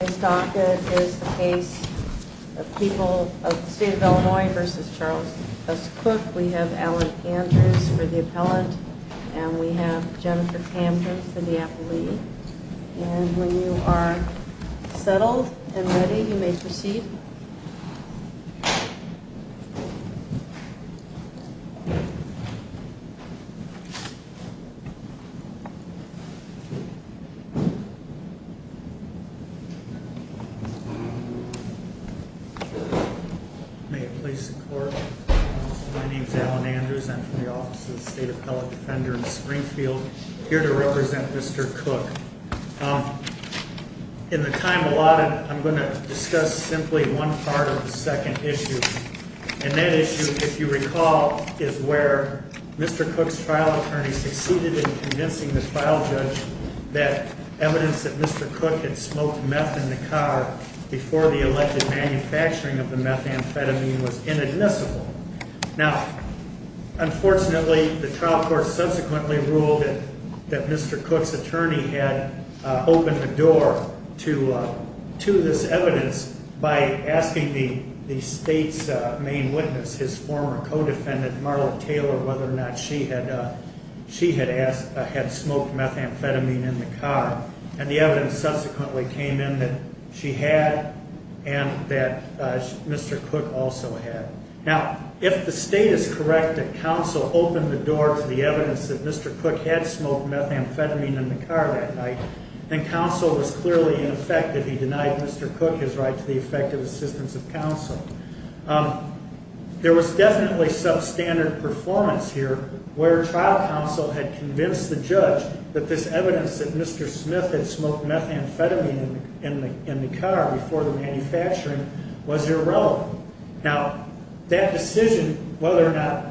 This docket is the case of the people of the state of Illinois v. Charles S. Cook. We have Alan Andrews for the appellant, and we have Jennifer Hampton for the appellee. And when you are settled and ready, you may proceed. May it please the Court. My name is Alan Andrews. I'm from the Office of the State Appellate Defender in Springfield. I'm here to represent Mr. Cook. In the time allotted, I'm going to discuss simply one part of the second issue. And that issue, if you recall, is where Mr. Cook's trial attorney succeeded in convincing the trial judge that evidence that Mr. Cook had smoked meth in the car before the elected manufacturing of the methamphetamine was inadmissible. Now, unfortunately, the trial court subsequently ruled that Mr. Cook's attorney had opened the door to this evidence by asking the state's main witness, his former co-defendant, Marla Taylor, whether or not she had smoked methamphetamine in the car. And the evidence subsequently came in that she had and that Mr. Cook also had. Now, if the state is correct that counsel opened the door to the evidence that Mr. Cook had smoked methamphetamine in the car that night, then counsel was clearly in effect if he denied Mr. Cook his right to the effective assistance of counsel. There was definitely substandard performance here where trial counsel had convinced the judge that this evidence that Mr. Smith had smoked methamphetamine in the car before the manufacturing was irrelevant. Now, that decision whether or not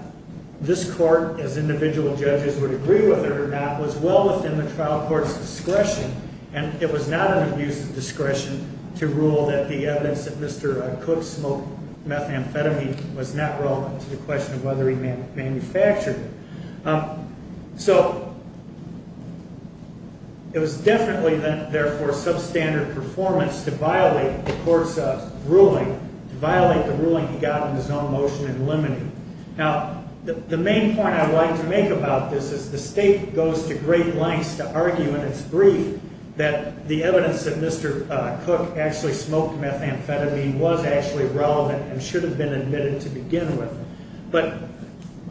this court as individual judges would agree with it or not was well within the trial court's discretion and it was not an abuse of discretion to rule that the evidence that Mr. Cook smoked methamphetamine was not relevant to the question of whether he manufactured it. So, it was definitely, therefore, substandard performance to violate the court's ruling, to violate the ruling he got in his own motion in limine. Now, the main point I'd like to make about this is the state goes to great lengths to argue in its brief that the evidence that Mr. Cook actually smoked methamphetamine was actually relevant and should have been admitted to begin with. But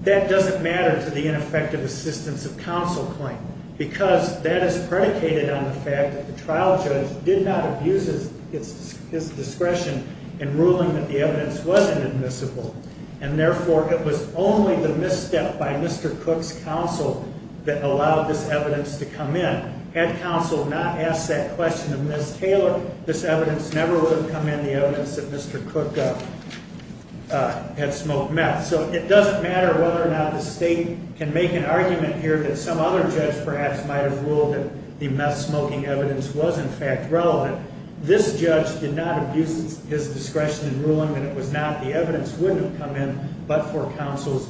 that doesn't matter to the ineffective assistance of counsel claim because that is predicated on the fact that the trial judge did not abuse his discretion in ruling that the evidence wasn't admissible and, therefore, it was only the misstep by Mr. Cook's counsel that allowed this evidence to come in. Had counsel not asked that question of Ms. Taylor, this evidence never would have come in, the evidence that Mr. Cook had smoked meth. So, it doesn't matter whether or not the state can make an argument here that some other judge perhaps might have ruled that the meth-smoking evidence was, in fact, relevant. This judge did not abuse his discretion in ruling that it was not. The evidence wouldn't have come in but for counsel's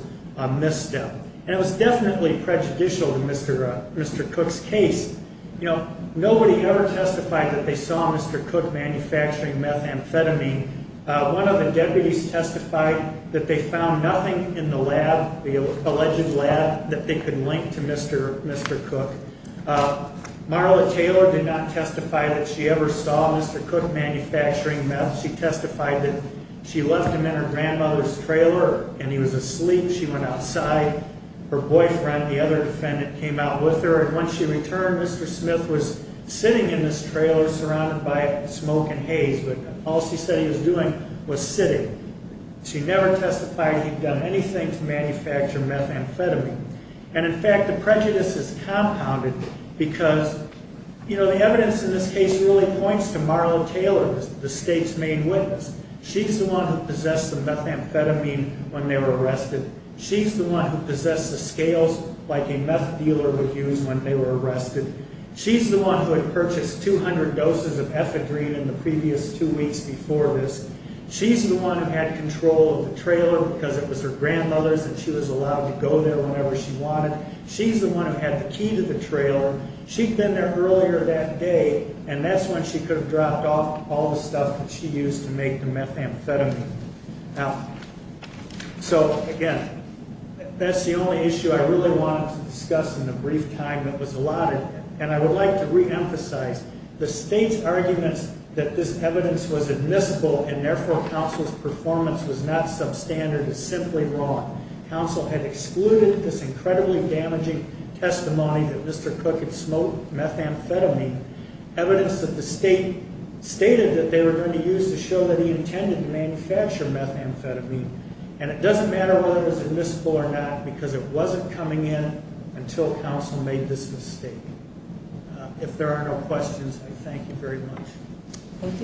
misstep. And it was definitely prejudicial to Mr. Cook's case. You know, nobody ever testified that they saw Mr. Cook manufacturing methamphetamine. One of the deputies testified that they found nothing in the lab, the alleged lab, that they could link to Mr. Cook. Marla Taylor did not testify that she ever saw Mr. Cook manufacturing meth. She testified that she left him in her grandmother's trailer and he was asleep. She went outside. Her boyfriend, the other defendant, came out with her. And when she returned, Mr. Smith was sitting in this trailer surrounded by smoke and haze. All she said he was doing was sitting. She never testified he'd done anything to manufacture methamphetamine. And, in fact, the prejudice is compounded because, you know, the evidence in this case really points to Marla Taylor. The state's main witness. She's the one who possessed the methamphetamine when they were arrested. She's the one who possessed the scales like a meth dealer would use when they were arrested. She's the one who had purchased 200 doses of ephedrine in the previous two weeks before this. She's the one who had control of the trailer because it was her grandmother's and she was allowed to go there whenever she wanted. She'd been there earlier that day and that's when she could have dropped off all the stuff that she used to make the methamphetamine. Now, so, again, that's the only issue I really wanted to discuss in the brief time that was allotted. And I would like to reemphasize the state's arguments that this evidence was admissible and, therefore, counsel's performance was not substandard is simply wrong. Counsel had excluded this incredibly damaging testimony that Mr. Cook had smoked methamphetamine, evidence that the state stated that they were going to use to show that he intended to manufacture methamphetamine, and it doesn't matter whether it was admissible or not because it wasn't coming in until counsel made this mistake. If there are no questions, I thank you very much. Thank you.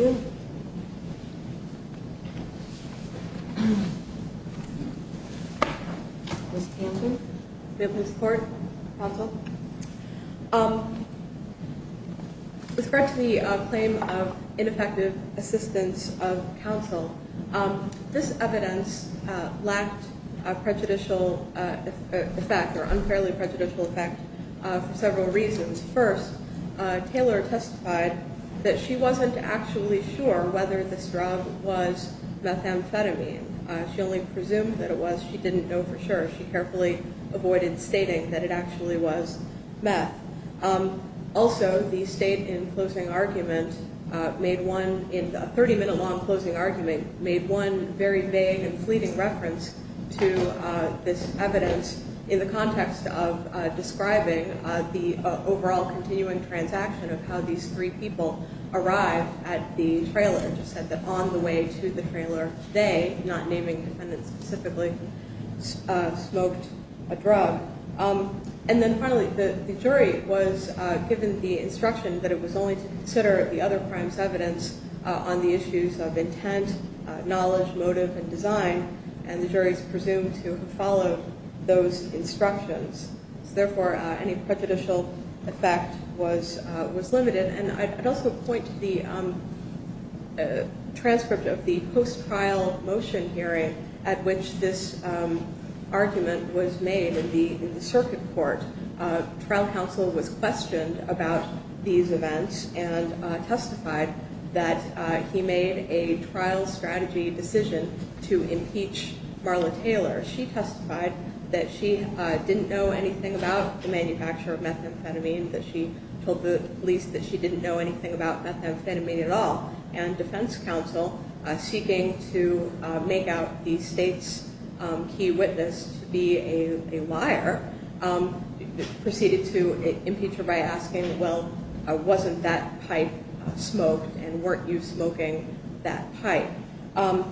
Ms. Tanton, do we have any support? Counsel? With regard to the claim of ineffective assistance of counsel, this evidence lacked a prejudicial effect or unfairly prejudicial effect for several reasons. First, Taylor testified that she wasn't actually sure whether this drug was methamphetamine. She only presumed that it was. She didn't know for sure. She carefully avoided stating that it actually was meth. Also, the state, in a 30-minute long closing argument, made one very vague and fleeting reference to this evidence in the context of describing the overall continuing transaction of how these three people arrived at the trailer and just said that on the way to the trailer, they, not naming defendants specifically, smoked a drug. And then, finally, the jury was given the instruction that it was only to consider the other crime's evidence on the issues of intent, knowledge, motive, and design, and the juries presumed to have followed those instructions. So, therefore, any prejudicial effect was limited. And I'd also point to the transcript of the post-trial motion hearing at which this argument was made in the circuit court. Trial counsel was questioned about these events and testified that he made a trial strategy decision to impeach Marla Taylor. She testified that she didn't know anything about the manufacture of methamphetamine, that she told the police that she didn't know anything about methamphetamine at all, and defense counsel, seeking to make out the state's key witness to be a liar, proceeded to impeach her by asking, well, wasn't that pipe smoked and weren't you smoking that pipe? How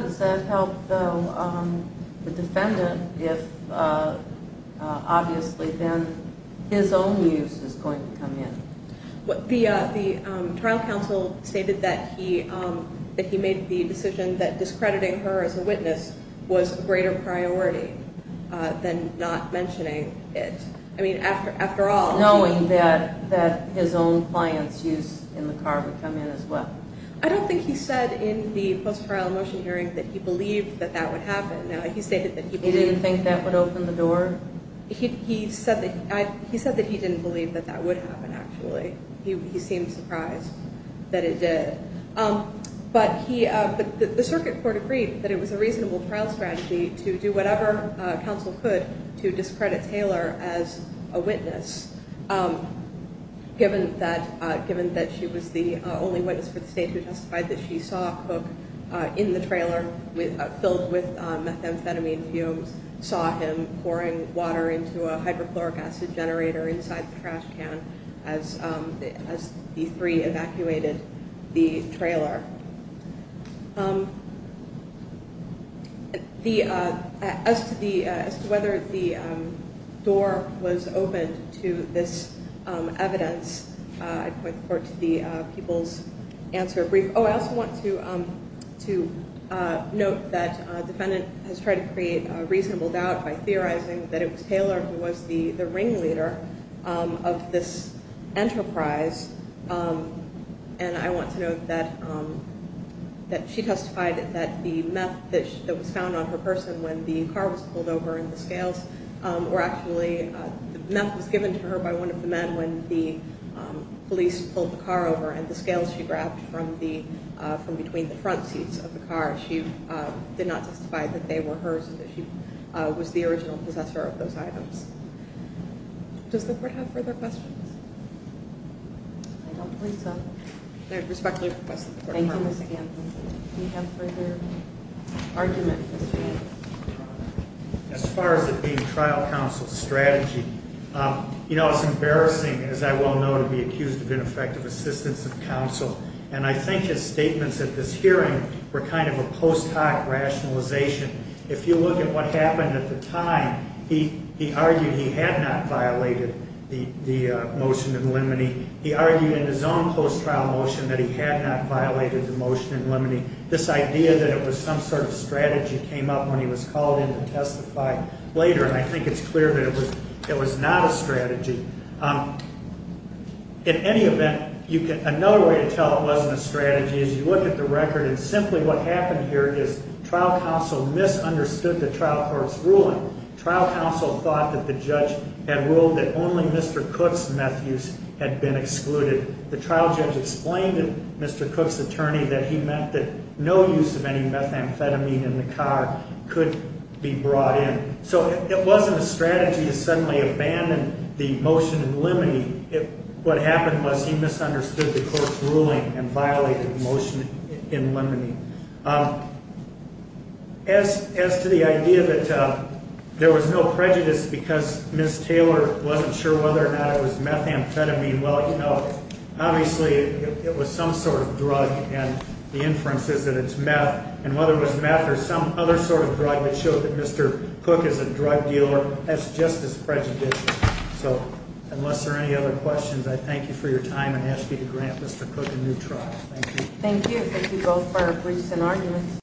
does that help the defendant if, obviously, then his own use is going to come in? The trial counsel stated that he made the decision that discrediting her as a witness was a greater priority than not mentioning it. I mean, after all... Knowing that his own client's use in the car would come in as well. I don't think he said in the post-trial motion hearing that he believed that that would happen. He stated that he believed... He didn't think that would open the door? He said that he didn't believe that that would happen, actually. He seemed surprised that it did. But the circuit court agreed that it was a reasonable trial strategy to do whatever counsel could to discredit Taylor as a witness, given that she was the only witness for the state who testified that she saw Cook in the trailer filled with methamphetamine fumes, saw him pouring water into a hydrochloric acid generator inside the trash can as the three evacuated the trailer. As to whether the door was opened to this evidence, I'd point the court to the people's answer brief. Oh, I also want to note that a defendant has tried to create a reasonable doubt by theorizing that it was Taylor who was the ringleader of this enterprise. And I want to note that she testified that the meth that was found on her person when the car was pulled over and the scales were actually... The meth was given to her by one of the men when the police pulled the car over, and the scales she grabbed from between the front seats of the car, she did not testify that they were hers and that she was the original possessor of those items. Does the court have further questions? I don't think so. I respect your request. Thank you, Ms. Gampin. Do you have further argument? As far as the trial counsel strategy, you know, it's embarrassing, as I well know, to be accused of ineffective assistance of counsel. And I think his statements at this hearing were kind of a post hoc rationalization. If you look at what happened at the time, he argued he had not violated the motion in limine. He argued in his own post trial motion that he had not violated the motion in limine. This idea that it was some sort of strategy came up when he was called in to testify later, and I think it's clear that it was not a strategy. In any event, another way to tell it wasn't a strategy is you look at the record, and simply what happened here is trial counsel misunderstood the trial court's ruling. Trial counsel thought that the judge had ruled that only Mr. Cook's meth use had been excluded. The trial judge explained to Mr. Cook's attorney that he meant that no use of any methamphetamine in the car could be brought in. So it wasn't a strategy to suddenly abandon the motion in limine. What happened was he misunderstood the court's ruling and violated the motion in limine. As to the idea that there was no prejudice because Ms. Taylor wasn't sure whether or not it was methamphetamine, well, you know, obviously it was some sort of drug, and the inference is that it's meth. And whether it was meth or some other sort of drug that showed that Mr. Cook is a drug dealer, that's just as prejudicial. So unless there are any other questions, I thank you for your time and ask you to grant Mr. Cook a new trial. Thank you. Thank you. Thank you both for your briefs and arguments.